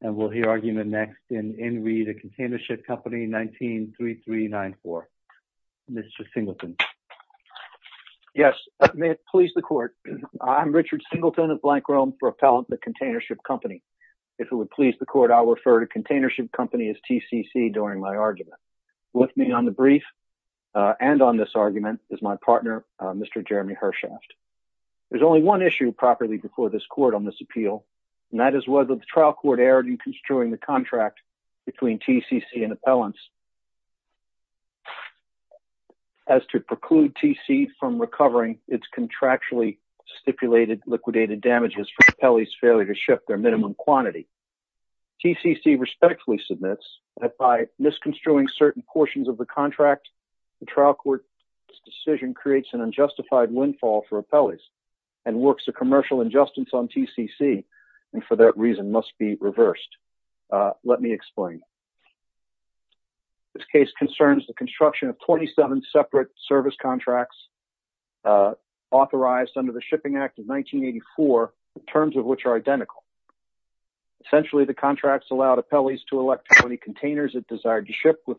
and we'll hear argument next in In Re The Containership Company 19-3394. Mr. Singleton. Yes, may it please the court. I'm Richard Singleton of Blank Rome for Appellant The Containership Company. If it would please the court, I'll refer to Containership Company as TCC during my argument. With me on the brief and on this argument is my partner, Mr. Jeremy Hershaft. There's only one issue properly before this court on this appeal, and that is whether the trial court erred in construing the contract between TCC and appellants as to preclude TCC from recovering its contractually stipulated liquidated damages for appellees' failure to ship their minimum quantity. TCC respectfully submits that by misconstruing certain portions of the contract, the trial court's decision creates an unjustified windfall for appellees and works a commercial injustice on TCC and for that reason must be reversed. Let me explain. This case concerns the construction of 27 separate service contracts authorized under the Shipping Act of 1984, the terms of which are identical. Essentially, the contracts allowed appellees to elect how many containers it desired to ship with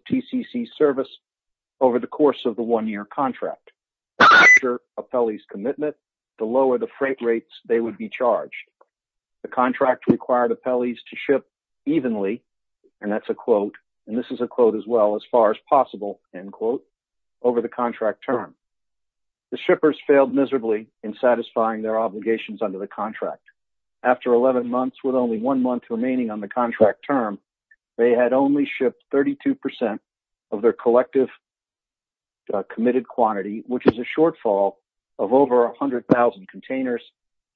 commitment to lower the freight rates they would be charged. The contract required appellees to ship evenly, and that's a quote, and this is a quote as well, as far as possible, end quote, over the contract term. The shippers failed miserably in satisfying their obligations under the contract. After 11 months, with only one month remaining on the contract term, they had only shipped 32% of their collective committed quantity, which is a shortfall of over 100,000 containers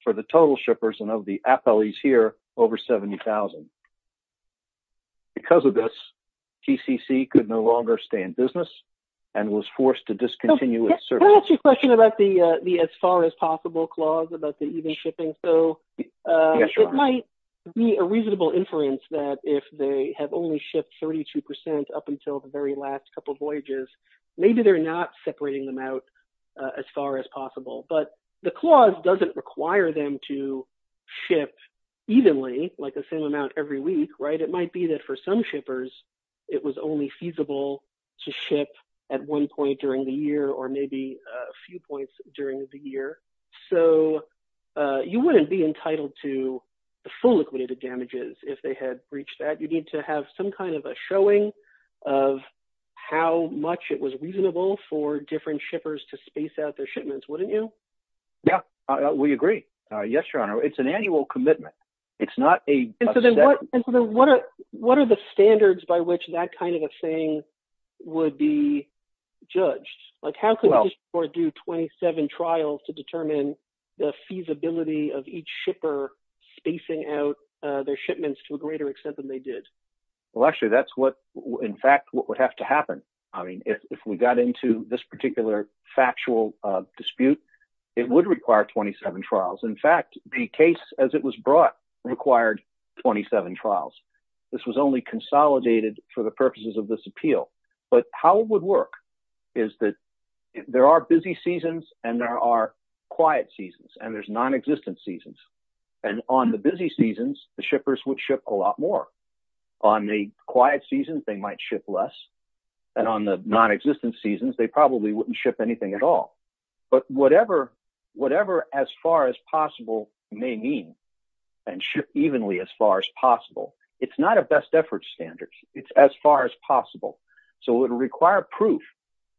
for the total shippers and of the appellees here, over 70,000. Because of this, TCC could no longer stay in business and was forced to discontinue its service. Can I ask you a question about the as far as possible clause about the even shipping? So, it might be a reasonable inference that if they have only shipped 32% up until the very last couple of voyages, maybe they're not separating them out as far as possible. But the clause doesn't require them to ship evenly, like the same amount every week, right? It might be that for some shippers, it was only feasible to ship at one point during the year or maybe a few points during the year. So, you wouldn't be entitled to full liquidated damages if they had breached that. You need to have some kind of a showing of how much it was reasonable for different shippers to space out their shipments, wouldn't you? Yeah, we agree. Yes, your honor. It's an annual commitment. It's not a... And so then what are the standards by which that kind of a thing would be judged? Like, how could this court do 27 trials to determine the feasibility of each shipper spacing out their shipments to a greater extent than they did? Well, actually, that's what in fact what would have to happen. I mean, if we got into this particular factual dispute, it would require 27 trials. In fact, the case as it was brought required 27 trials. This was consolidated for the purposes of this appeal. But how it would work is that there are busy seasons and there are quiet seasons and there's non-existent seasons. And on the busy seasons, the shippers would ship a lot more. On the quiet seasons, they might ship less. And on the non-existent seasons, they probably wouldn't ship anything at all. But whatever as far as possible may mean, and ship evenly as far as possible, it's not a best effort standard. It's as far as possible. So it would require proof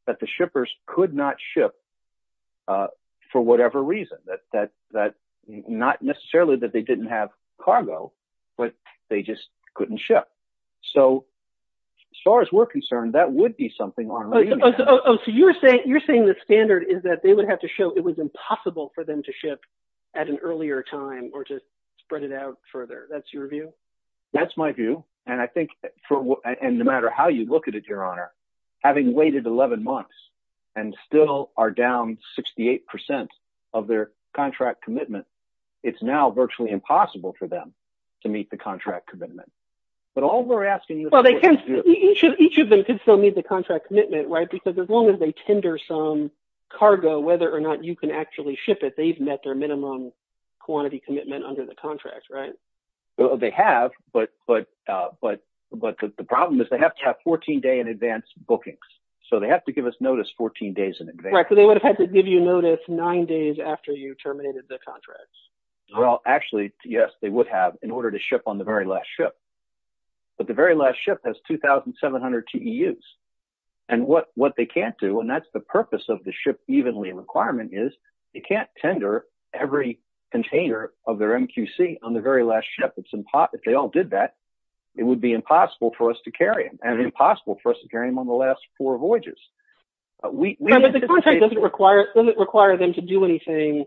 that the shippers could not ship for whatever reason. Not necessarily that they didn't have cargo, but they just couldn't ship. So as far as we're concerned, that would be something on... Oh, so you're saying the standard is that they would have to show it was impossible for them to ship at an earlier time or to spread it out further. That's your view? That's my view. And I think for... And no matter how you look at it, Your Honor, having waited 11 months and still are down 68% of their contract commitment, it's now virtually impossible for them to meet the contract commitment. But all we're asking is... Each of them could still meet the contract commitment, right? Because as long as they ship under some cargo, whether or not you can actually ship it, they've met their minimum quantity commitment under the contract, right? They have, but the problem is they have to have 14-day in advance bookings. So they have to give us notice 14 days in advance. Right, so they would have had to give you notice nine days after you terminated the contracts. Well, actually, yes, they would have in order to ship on the very last ship. But the very last ship has 2,700 TEUs. And what they can't do, and that's the purpose of the ship evenly requirement is they can't tender every container of their MQC on the very last ship. If they all did that, it would be impossible for us to carry them and impossible for us to carry them on the last four voyages. But the contract doesn't require them to do anything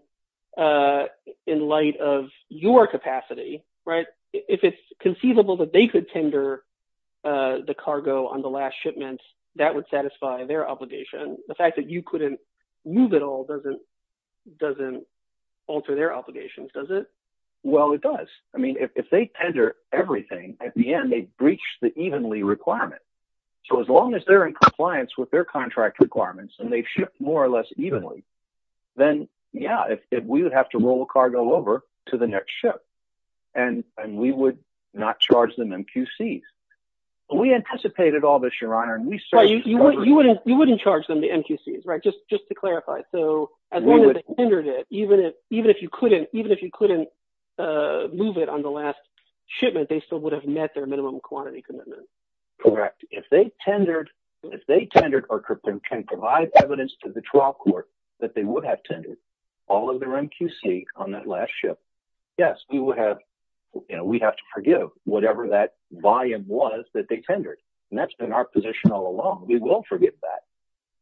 in light of your capacity, right? If it's conceivable that they could tender the cargo on the last shipment, that would satisfy their obligation. The fact that you couldn't move at all doesn't alter their obligations, does it? Well, it does. I mean, if they tender everything, at the end, they've breached the evenly requirement. So as long as they're in compliance with their contract requirements and they've shipped more or less if we would have to roll the cargo over to the next ship, and we would not charge them MQCs. We anticipated all this, your honor. You wouldn't charge them the MQCs, right? Just to clarify. So as long as they tendered it, even if you couldn't move it on the last shipment, they still would have met their minimum quantity commitment. Correct. If they tendered or can provide evidence to the trial court that they would have tendered all of their MQC on that last ship. Yes, we would have, you know, we'd have to forgive whatever that volume was that they tendered. And that's been our position all along. We will forgive that.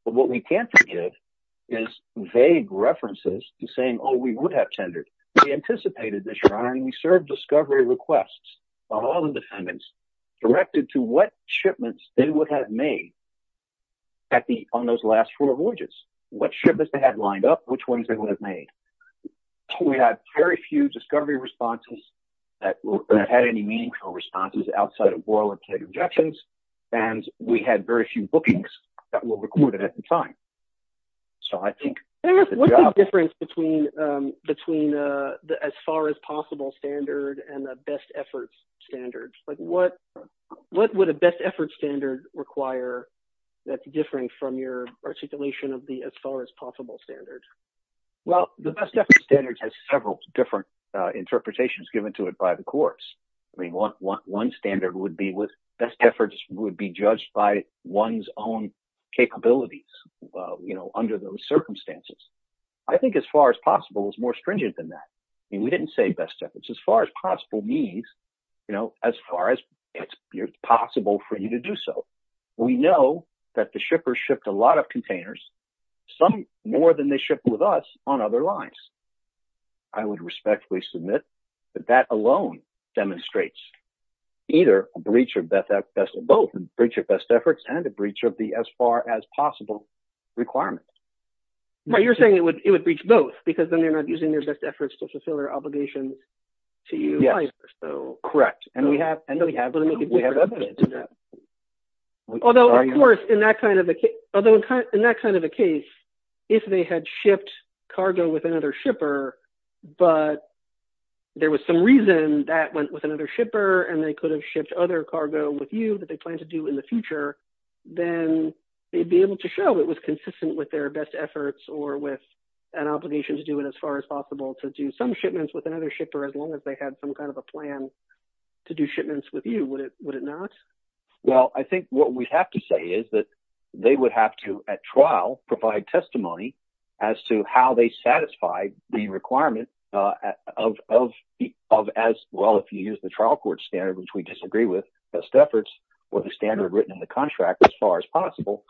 But what we can't forgive is vague references to saying, oh, we would have tendered. We anticipated this, your honor, and we served discovery requests of all the defendants directed to what shipments they had made on those last four voyages. What shipments they had lined up, which ones they would have made. We had very few discovery responses that had any meaningful responses outside of oral and pleading objections. And we had very few bookings that were recorded at the time. So I think... What's the difference between the as far as possible standard and the best effort standard require that's different from your articulation of the as far as possible standard? Well, the best effort standard has several different interpretations given to it by the courts. I mean, one standard would be with best efforts would be judged by one's own capabilities, you know, under those circumstances. I think as far as possible is more stringent than that. I mean, we didn't say best efforts as far as possible means, you know, as far as possible for you to do so. We know that the shippers shipped a lot of containers, some more than they shipped with us on other lines. I would respectfully submit that that alone demonstrates either a breach of both, a breach of best efforts and a breach of the as far as possible requirement. But you're saying it would breach both because then they're not using their best efforts. Although, of course, in that kind of a case, if they had shipped cargo with another shipper, but there was some reason that went with another shipper and they could have shipped other cargo with you that they plan to do in the future, then they'd be able to show it was consistent with their best efforts or with an obligation to do it as far as possible to do some shipments with would it not? Well, I think what we have to say is that they would have to at trial provide testimony as to how they satisfy the requirement of as well, if you use the trial court standard, which we disagree with best efforts or the standard written in the contract as far as possible,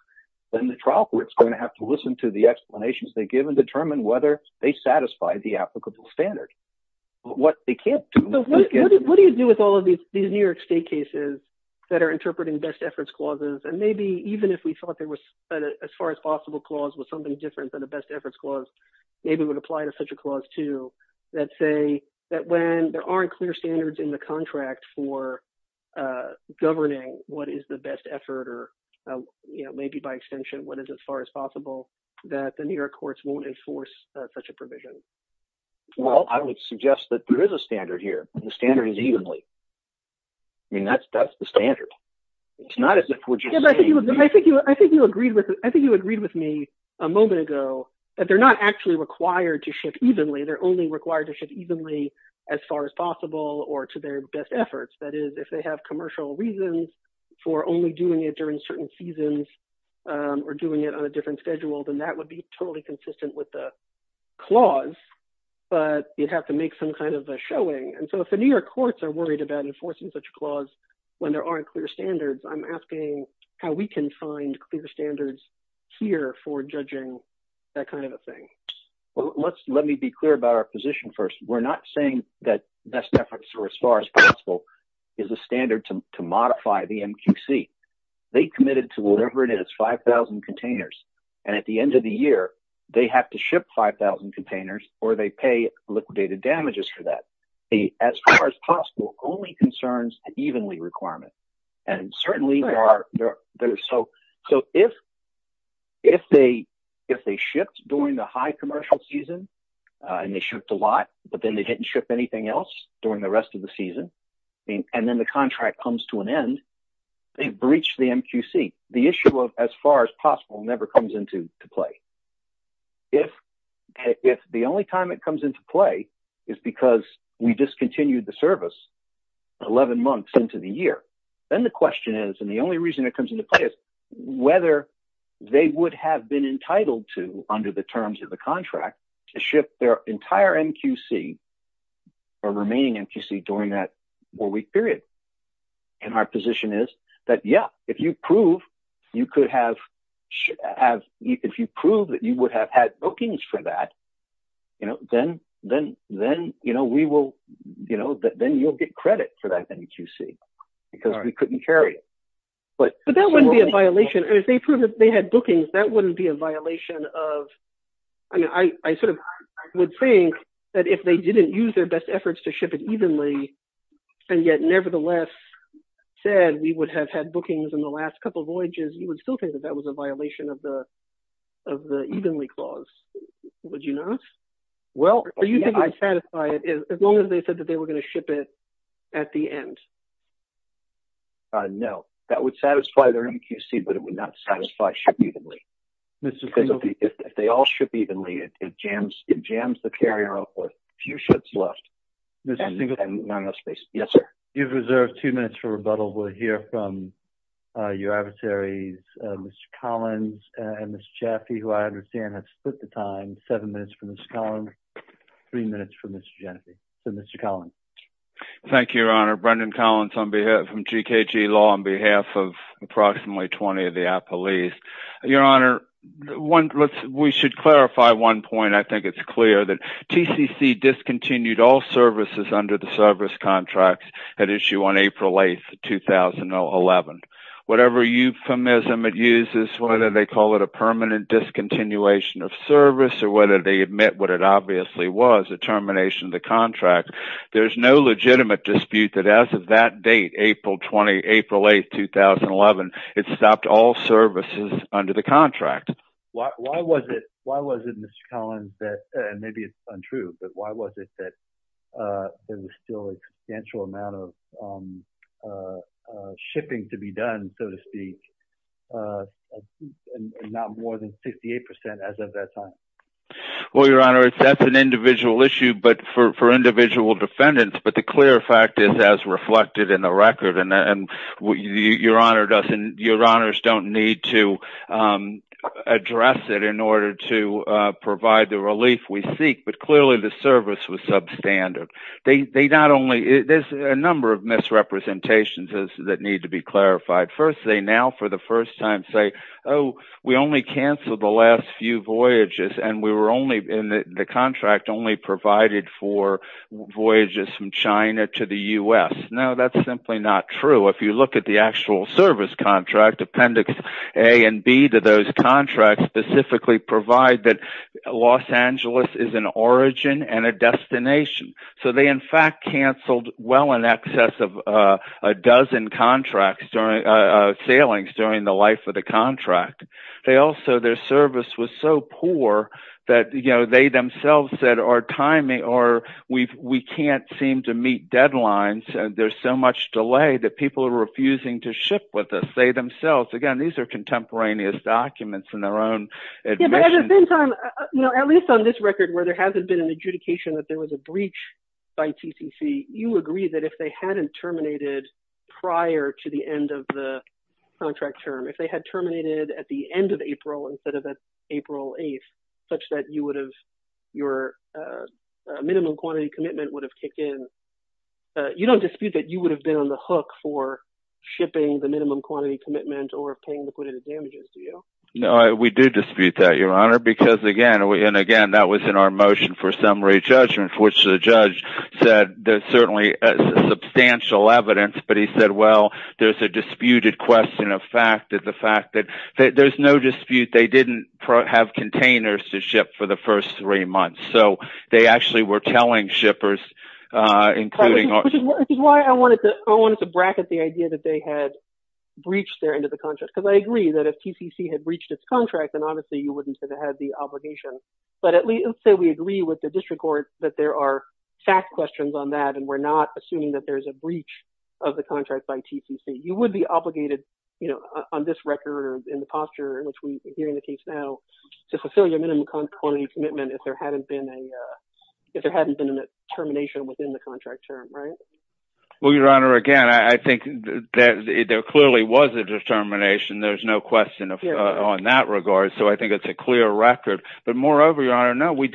then the trial court is going to have to listen to the explanations they give and determine whether they satisfy the applicable standard. But what they can't do. What do you do with all of these New York state cases that are interpreting best efforts clauses? And maybe even if we thought there was as far as possible clause was something different than the best efforts clause, maybe would apply to such a clause, too, that say that when there aren't clear standards in the contract for governing what is the best effort, or maybe by extension, what is as far as possible that the New York courts won't enforce such a provision? Well, I would suggest that there is a standard here, the standard is evenly. I mean, that's that's the standard. It's not as if what you said, I think you I think you agreed with, I think you agreed with me a moment ago, that they're not actually required to ship evenly, they're only required to ship evenly, as far as possible, or to their best efforts. That is, if they have commercial reasons for only doing it during certain seasons, or doing it on a different schedule, then that would be totally consistent with the clause. But you'd have to make some kind of a showing. And so if the New York courts are worried about enforcing such a clause, when there aren't clear standards, I'm asking how we can find clear standards here for judging that kind of a thing. Well, let's let me be clear about our position. First, we're not saying that best efforts or as far as possible is a standard to modify the MQC. They committed to whatever it is 5000 containers. And at the end of the year, they have to ship 5000 containers, or they pay liquidated damages for that. The as far as possible only concerns the evenly requirement. And certainly are there. So so if, if they, if they shipped during the high commercial season, and they shipped a lot, but then they didn't ship anything else during the rest of the season. And then the contract comes to an end, they breach the MQC, the issue of as far as possible never comes into play. If, if the only time it comes into play is because we discontinued the service 11 months into the year, then the question is, and the only reason it comes into play is whether they would have been entitled to under the terms of the contract to ship their entire MQC or remaining MQC during that four week period. And our position is that yeah, if you prove you could have, have, if you prove that you would have had bookings for that, you know, then, then, then, you know, we will, you know, that then you'll get credit for that MQC, because we couldn't carry it. But, but that wouldn't be a violation. And if they prove that they had bookings, that wouldn't be a violation of, I mean, I sort of would think that if they didn't use their best efforts to ship it evenly, and yet, nevertheless, said we would have had bookings in the last couple of voyages, you would still think that that was a violation of the, of the evenly clause, would you not? Well, are you going to satisfy it as long as they said that they were going to ship it at the end? No, that would satisfy their MQC, but it would not satisfy ship evenly. If they all ship evenly, it jams, it jams the carrier up with few ships left. Yes, sir. You've reserved two minutes for rebuttal. We'll hear from your adversaries, Mr. Collins, and Mr. Chaffee, who I understand has split the time, seven minutes for Mr. Collins, three minutes for Mr. Chaffee. Mr. Collins. Thank you, Your Honor. Brendan Collins on behalf from GKG Law on behalf of approximately 20 of the services under the service contracts at issue on April 8th, 2011. Whatever euphemism it uses, whether they call it a permanent discontinuation of service, or whether they admit what it obviously was, a termination of the contract, there's no legitimate dispute that as of that date, April 20, April 8th, 2011, it stopped all services under the contract. Why was it, Mr. Collins, and maybe it's untrue, but why was it that there was still a substantial amount of shipping to be done, so to speak, and not more than 68% as of that time? Well, Your Honor, that's an individual issue, but for individual defendants, but the clear fact is as reflected in the record, and Your Honors don't need to address it in order to provide the relief we seek, but clearly the service was substandard. There's a number of misrepresentations that need to be clarified. First, they now for the first time say, oh, we only canceled the last few voyages, and the contract only provided for voyages from China to the U.S. No, that's simply not true. If you look at the actual service contract, Appendix A and B of those contracts specifically provide that Los Angeles is an origin and a destination, so they in fact canceled well in excess of a dozen sailings during the life of the contract. Their service was so poor that they themselves said, we can't seem to meet deadlines, there's so much delay that people are refusing to ship with us. They themselves, again, contemporaneous documents in their own admission. At the same time, at least on this record where there hasn't been an adjudication that there was a breach by TCC, you agree that if they hadn't terminated prior to the end of the contract term, if they had terminated at the end of April instead of that April 8th, such that your minimum quantity commitment would have kicked in, you don't dispute that you would have been on the hook for shipping the minimum quantity commitment or paying liquidated damages, do you? No, we do dispute that, Your Honor, because again, and again, that was in our motion for summary judgment, which the judge said there's certainly substantial evidence, but he said, well, there's a disputed question of fact that the fact that there's no dispute, they didn't have containers to ship for the first three months, so they actually were telling shippers, including... Which is why I wanted to bracket the idea that they had breached their end of the contract, because I agree that if TCC had breached its contract, then obviously you wouldn't say they had the obligation. But let's say we agree with the district court that there are fact questions on that, and we're not assuming that there's a breach of the contract by TCC. You would be obligated on this record, in the posture in which we're hearing the case now, to fulfill your minimum quantity commitment if there hadn't been termination within the contract term, right? Well, Your Honor, again, I think that there clearly was a determination. There's no question on that regard, so I think it's a clear record. But moreover, Your Honor, no, we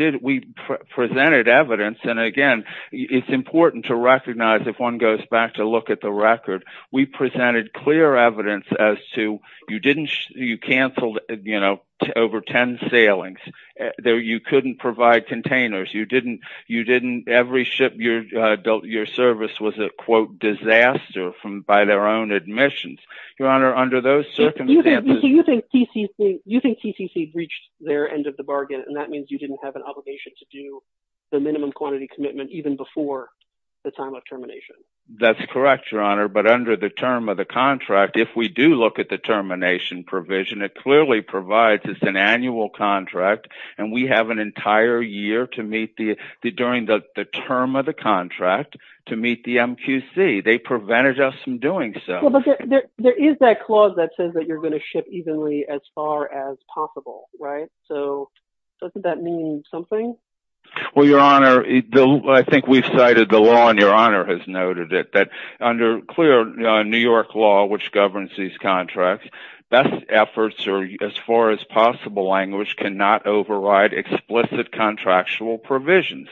presented evidence, and again, it's important to recognize if one goes back to look at the record, we presented clear evidence as to you canceled over 10 sailings. You couldn't provide containers. You didn't... Every ship your service was a, quote, disaster by their own admissions. Your Honor, under those circumstances... You think TCC breached their end of the bargain, and that means you didn't have an obligation to do the minimum quantity commitment even before the time of termination. That's correct, Your Honor, but under the term of the contract, if we do look at the annual contract, and we have an entire year to meet the... During the term of the contract to meet the MQC, they prevented us from doing so. Well, but there is that clause that says that you're going to ship evenly as far as possible, right? So doesn't that mean something? Well, Your Honor, I think we've cited the law, and Your Honor has noted it, that under clear New York law, which governs these contracts, best efforts, or as far as possible language, cannot override explicit contractual provisions.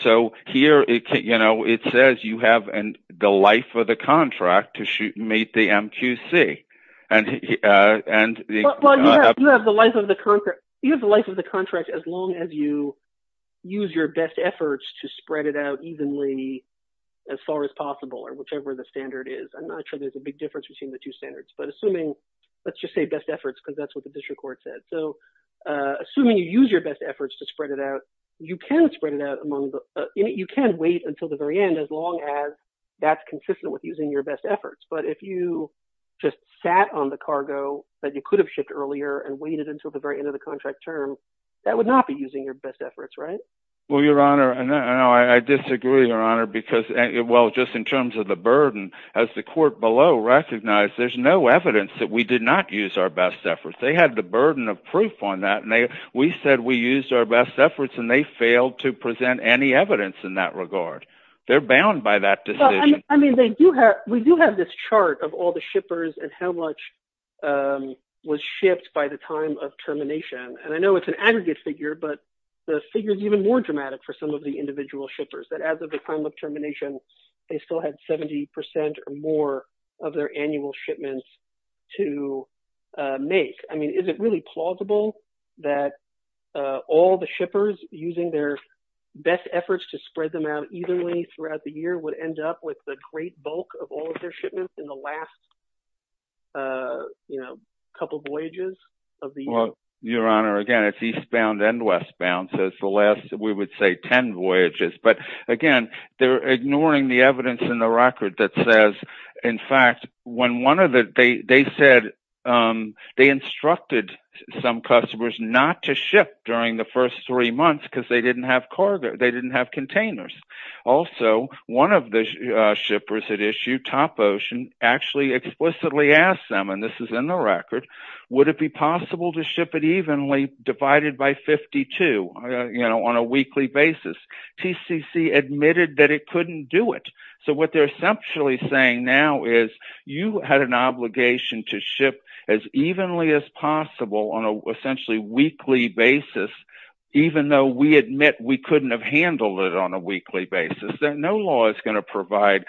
So here it says you have the life of the contract to meet the MQC, and the... Well, you have the life of the contract as long as you use your best efforts to spread it out evenly as far as possible, or whichever the standard is. I'm not sure there's a big difference between the two standards, but assuming... Let's just say best efforts, because that's what the district court said. So assuming you use your best efforts to spread it out, you can spread it out among the... You can wait until the very end as long as that's consistent with using your best efforts. But if you just sat on the cargo that you could have shipped earlier and waited until the very end of the contract term, that would not be using your best efforts, right? Well, Your Honor, I disagree, Your Honor, because... Well, just in terms of the burden, as the court below recognized, there's no evidence that we did not use our best efforts. They had the burden of proof on that, and we said we used our best efforts, and they failed to present any evidence in that regard. They're bound by that decision. Well, I mean, they do have... We do have this chart of all the shippers and how much was shipped by the time of termination. And I know it's an aggregate figure, but the figure is even more dramatic for some of the more of their annual shipments to make. I mean, is it really plausible that all the shippers using their best efforts to spread them out evenly throughout the year would end up with the great bulk of all of their shipments in the last couple voyages of the year? Well, Your Honor, again, it's eastbound and westbound, so it's the last, we would say, 10 voyages. But again, they're ignoring the evidence in the record that says, in fact, when one of the... They said they instructed some customers not to ship during the first three months because they didn't have containers. Also, one of the shippers that issued Topocean actually explicitly asked them, and this is in the record, would it be possible to ship it evenly divided by 52 on a weekly basis? TCC admitted that it couldn't do it. So what they're essentially saying now is you had an obligation to ship as evenly as possible on a essentially weekly basis, even though we admit we couldn't have handled it on a weekly basis. No law is going to provide...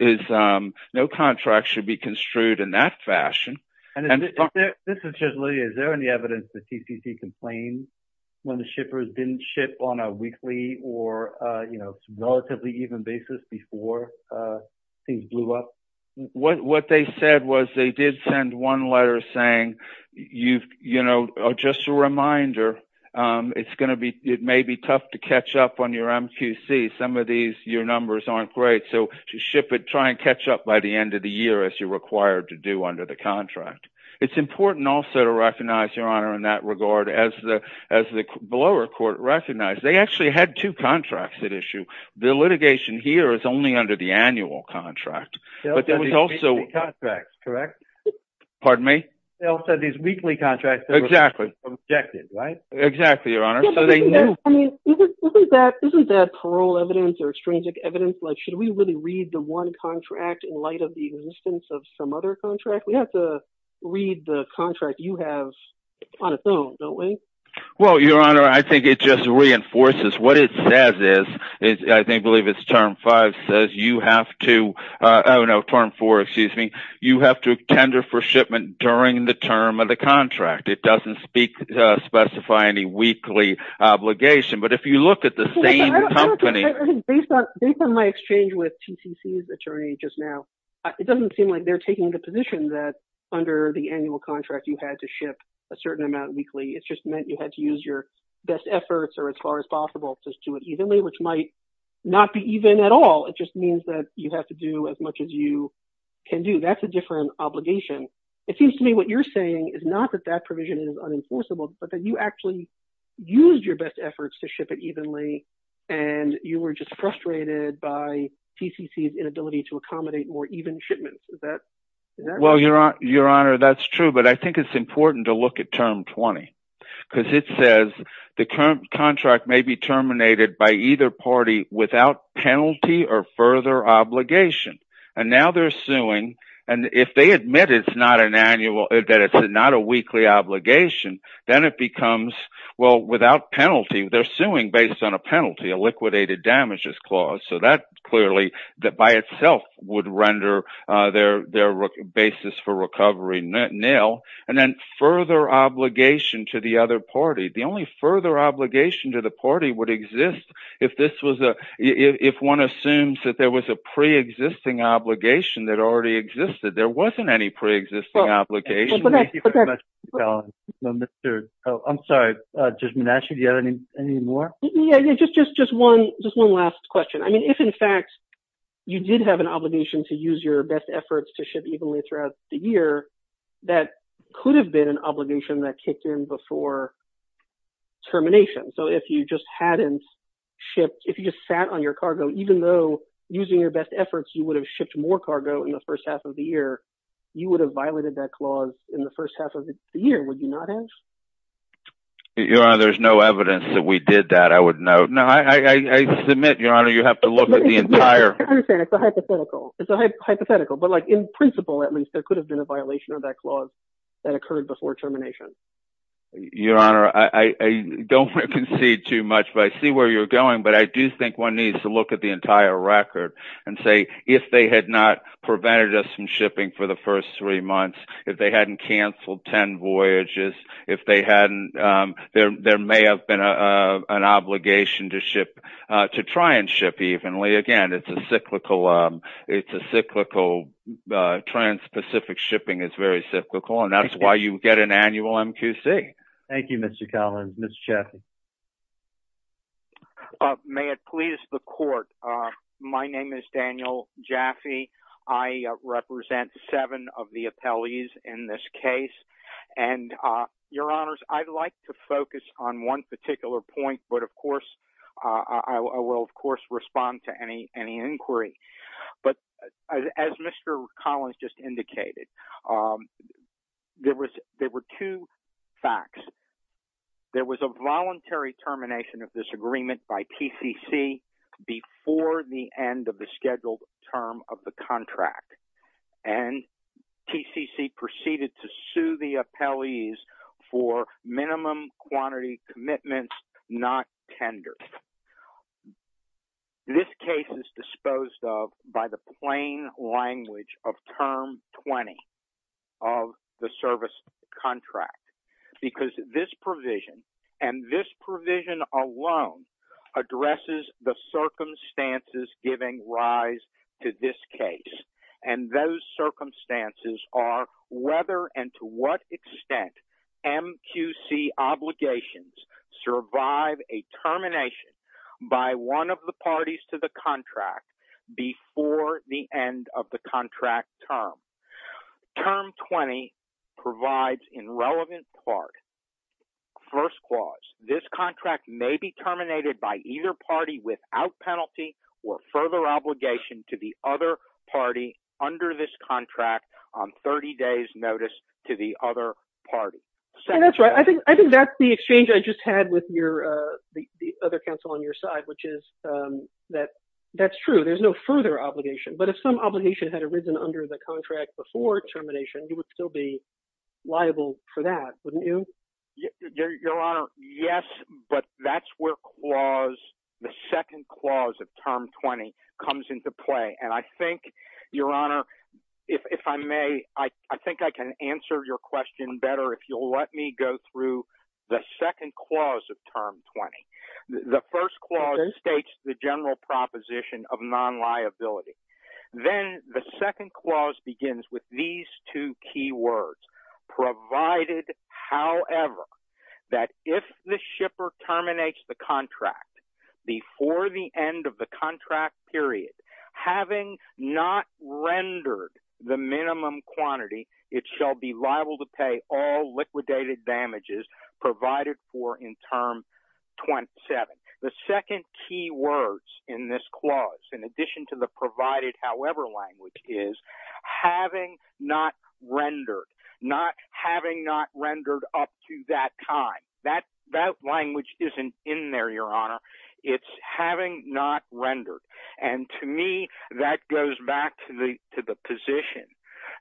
No contract should be construed in that fashion. And this is just... Is there any evidence that TCC complained when the shippers didn't ship on a weekly or relatively even basis before things blew up? What they said was they did send one letter saying, just a reminder, it may be tough to catch up on your MQC. Some of these, your numbers aren't great. So to ship it, try and catch up by the end of the year as you're required to do under the contract. It's important also to recognize, in that regard, as the blower court recognized, they actually had two contracts at issue. The litigation here is only under the annual contract, but there was also... They also had these weekly contracts, correct? Pardon me? They also had these weekly contracts that were... Exactly. ...objected, right? Exactly, your honor. So they knew... I mean, isn't that parole evidence or extrinsic evidence? Should we really read the one contract in light of the existence of some other contract? We have to read the contract you have on its own, don't we? Well, your honor, I think it just reinforces what it says is, I believe it's term five says, you have to... Oh no, term four, excuse me. You have to tender for shipment during the term of the contract. It doesn't specify any weekly obligation. But if you look at the same company... Based on my exchange with TCC's attorney just now, it doesn't seem like they're taking the that under the annual contract, you had to ship a certain amount weekly. It's just meant you had to use your best efforts or as far as possible to do it evenly, which might not be even at all. It just means that you have to do as much as you can do. That's a different obligation. It seems to me what you're saying is not that that provision is unenforceable, but that you actually used your best efforts to ship it evenly and you were just frustrated by TCC's inability to accommodate more even shipments. Is that right? Well, your honor, that's true. But I think it's important to look at term 20, because it says the current contract may be terminated by either party without penalty or further obligation. And now they're suing. And if they admit it's not a weekly obligation, then it becomes... Well, without penalty, they're suing based on a penalty, a liquidated damages clause. So that would render their basis for recovery nil. And then further obligation to the other party. The only further obligation to the party would exist if one assumes that there was a pre-existing obligation that already existed. There wasn't any pre-existing obligation. I'm sorry, Judge Menasche, do you have any more? Yeah, just one last question. I mean, if in fact, you did have an obligation to use your best efforts to ship evenly throughout the year, that could have been an obligation that kicked in before termination. So if you just sat on your cargo, even though using your best efforts, you would have shipped more cargo in the first half of the year, you would have violated that clause in the first half of the year, would you not have? Your Honor, there's no evidence that we did that, I would note. No, I submit, Your Honor, you have to look at the entire... I understand, it's a hypothetical, it's a hypothetical, but like in principle, at least there could have been a violation of that clause that occurred before termination. Your Honor, I don't want to concede too much, but I see where you're going. But I do think one needs to look at the entire record and say, if they had not prevented us from shipping for the first three months, if they hadn't canceled 10 voyages, there may have been an obligation to try and ship evenly. Again, it's a cyclical, trans-Pacific shipping is very cyclical, and that's why you get an annual MQC. Thank you, Mr. Collins. Mr. Jaffe? May it please the court, my name is Daniel Jaffe. I represent seven of the appellees in this case. And Your Honors, I'd like to focus on one particular point, but of course, I will, of course, respond to any inquiry. But as Mr. Collins just indicated, there were two facts. There was a voluntary termination of this agreement by TCC before the end of the scheduled term of the contract. And TCC proceeded to sue the appellees for minimum quantity commitments, not tender. This case is disposed of by the plain language of term 20 of the service contract, because this provision and this provision alone addresses the circumstances giving rise to this case. And those circumstances are whether and to what extent MQC obligations survive a termination by one of the parties to the contract before the end of the contract term. Term 20 provides in relevant part. First clause, this contract may be terminated by either party without penalty or further obligation to the other party under this contract on 30 days notice to the other party. That's right. I think that's the exchange I just had with the other counsel on your side, which is that that's true. There's no further obligation. But if some obligation had arisen under the contract before termination, you would still be liable for that, wouldn't you? Your Honor, yes. But that's where clause, the second clause of term 20 comes into play. And I think, Your Honor, if I may, I think I can answer your question better if you'll let me go through the second clause of term 20. The first clause states the general proposition of non-liability. Then the second clause begins with these two key words, provided, however, that if the shipper terminates the contract before the end of the contract period, having not rendered the minimum quantity, it shall be liable to pay all liquidated damages provided for in term 27. The second key words in this clause, in addition to the provided, however, language is having not rendered, not having not rendered up to that time. That that language isn't in there, Your Honor. It's having not rendered. And to me, that goes back to the position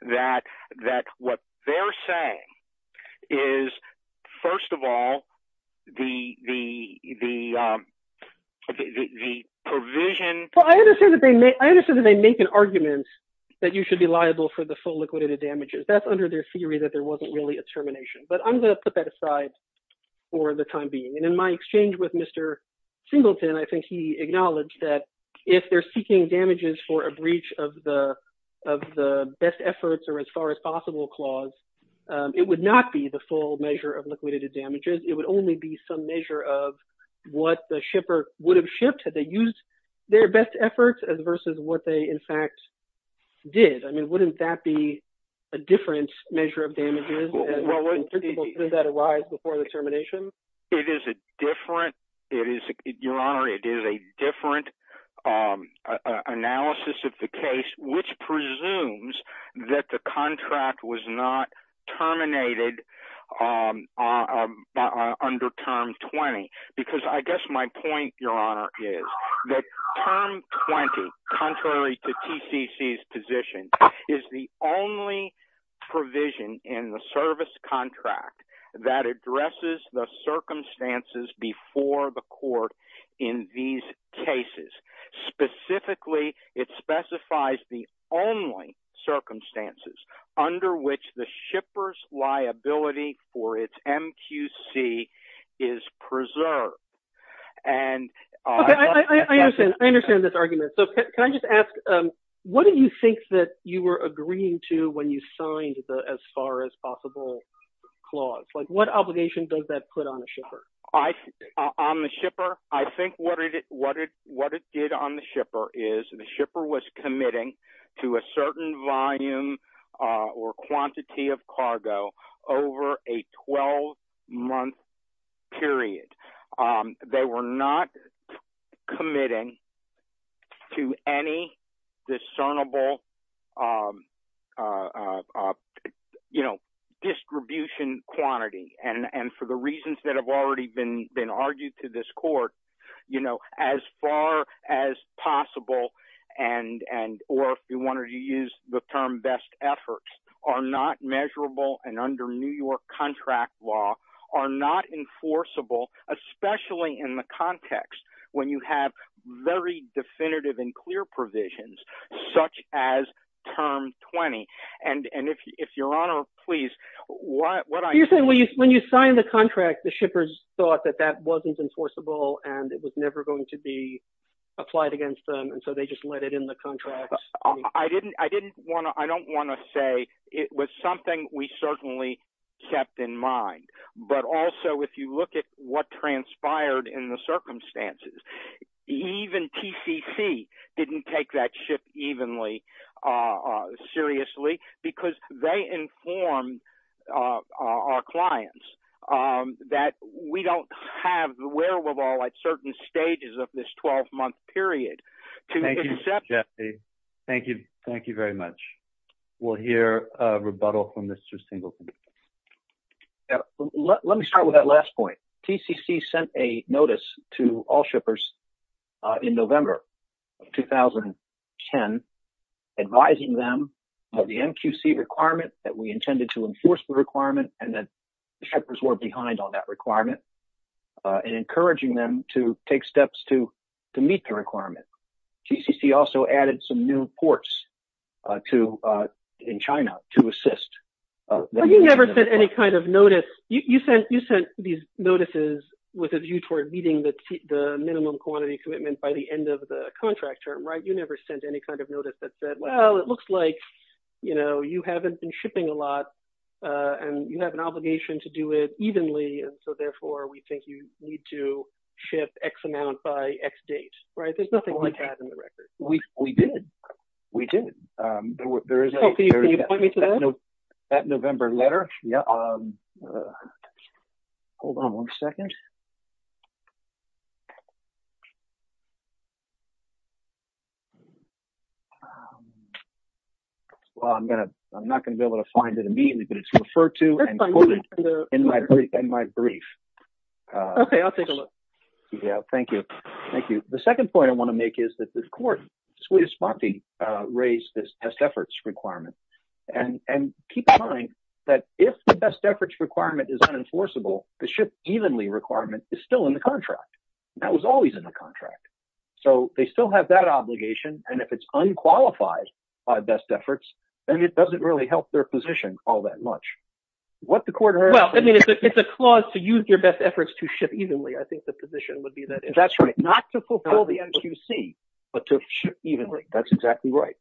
that what they're saying is, first of all, the provision... Well, I understand that they make an argument that you should be liable for the full liquidated damages. That's under their theory that there wasn't really a termination. But I'm going to put that aside for the time being. And in my exchange with Mr. Singleton, I think he acknowledged that if they're seeking damages for a breach of the best efforts or as far as possible clause, it would not be the full measure of liquidated damages. It would only be some measure of what the shipper would have shipped had they used their best efforts versus what they, in fact, did. I mean, wouldn't that be a different measure of damages that arise before the termination? It is a different... Your Honor, it is a different analysis of the case, which presumes that the contract was not terminated under Term 20. Because I guess my point, Your Honor, is that Term 20, contrary to TCC's position, is the only provision in the service contract that addresses the circumstances before the court in these cases. Specifically, it specifies the only circumstances under which the shipper's liability for its MQC is preserved. And... Okay, I understand. I understand this argument. So can I just ask, what do you think that you were agreeing to when you signed the as far as possible clause? What obligation does that put on a shipper? On the shipper, I think what it did on the shipper is the shipper was committing to a certain volume or quantity of cargo over a 12-month period. They were not committing to any discernible distribution quantity. And for the reasons that have already been argued to this court, as far as possible, or if you wanted to use the term best efforts, are not measurable and under New York contract law, are not enforceable, especially in the context when you have very definitive and clear provisions, such as Term 20. And if Your Honor, please... When you signed the contract, the shippers thought that that wasn't enforceable, and it was never going to be applied against them, and so they just let it in the contract. I didn't want to... I don't want to say it was something we certainly kept in mind, but also, if you look at what transpired in the circumstances, even TCC didn't take that shift evenly, seriously, because they informed our clients that we don't have the wherewithal at certain stages of this 12-month period to accept... Thank you. Thank you. Thank you very much. We'll hear a rebuttal from Mr. Singleton. Let me start with that last point. TCC sent a notice to all shippers in November of 2010, advising them of the MQC requirement that we intended to enforce the requirement, and that the shippers were behind on that requirement, and encouraging them to take steps to meet the requirement. TCC also added some new ports in China to assist. You never sent any kind of notice. You sent these notices with a view toward meeting the minimum quantity commitment by the end of the contract term, right? You never sent any kind of notice that said, well, it looks like you haven't been shipping a lot, and you have an need to ship X amount by X date, right? There's nothing like that in the record. We did. We did. Can you point me to that? That November letter. Hold on one second. I'm not going to be able to find it immediately, but it's referred to and quoted in my brief. Okay. I'll take a look. Yeah. Thank you. Thank you. The second point I want to make is that the court, suite of sponte, raised this best efforts requirement. Keep in mind that if the best efforts requirement is unenforceable, the ship evenly requirement is still in the contract. That was always in the contract. They still have that obligation, and if it's unqualified by best efforts, then it doesn't really help their position all that much. What the court heard- It's a clause to use your best efforts to ship evenly. I think the position would be that- That's right. Not to fulfill the MQC, but to ship evenly. That's exactly right.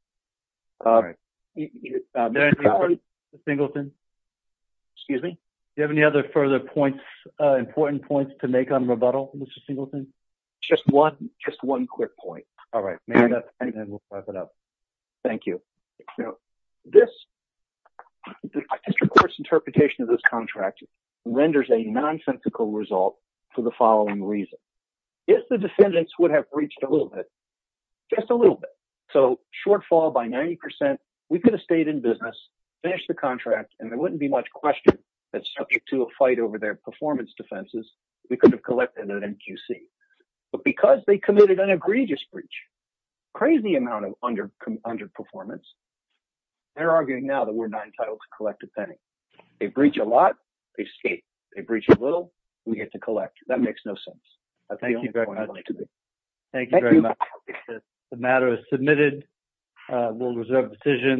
Mr. Singleton? Excuse me? Do you have any other further points, important points to make on rebuttal, Mr. Singleton? Just one quick point. All right. We'll wrap it up. Thank you. This district court's interpretation of this contract renders a nonsensical result for the following reason. If the defendants would have breached a little bit, just a little bit, so shortfall by 90%, we could have stayed in business, finished the contract, and there wouldn't be much question that subject to a fight over their performance defenses, we could have collected an MQC. But because they committed an egregious breach, crazy amount of underperformance, they're arguing now that we're not entitled to collect a penny. They breach a lot, they escape. They breach a little, we get to collect. That makes no sense. Thank you very much. The matter is submitted. We'll reserve the decision.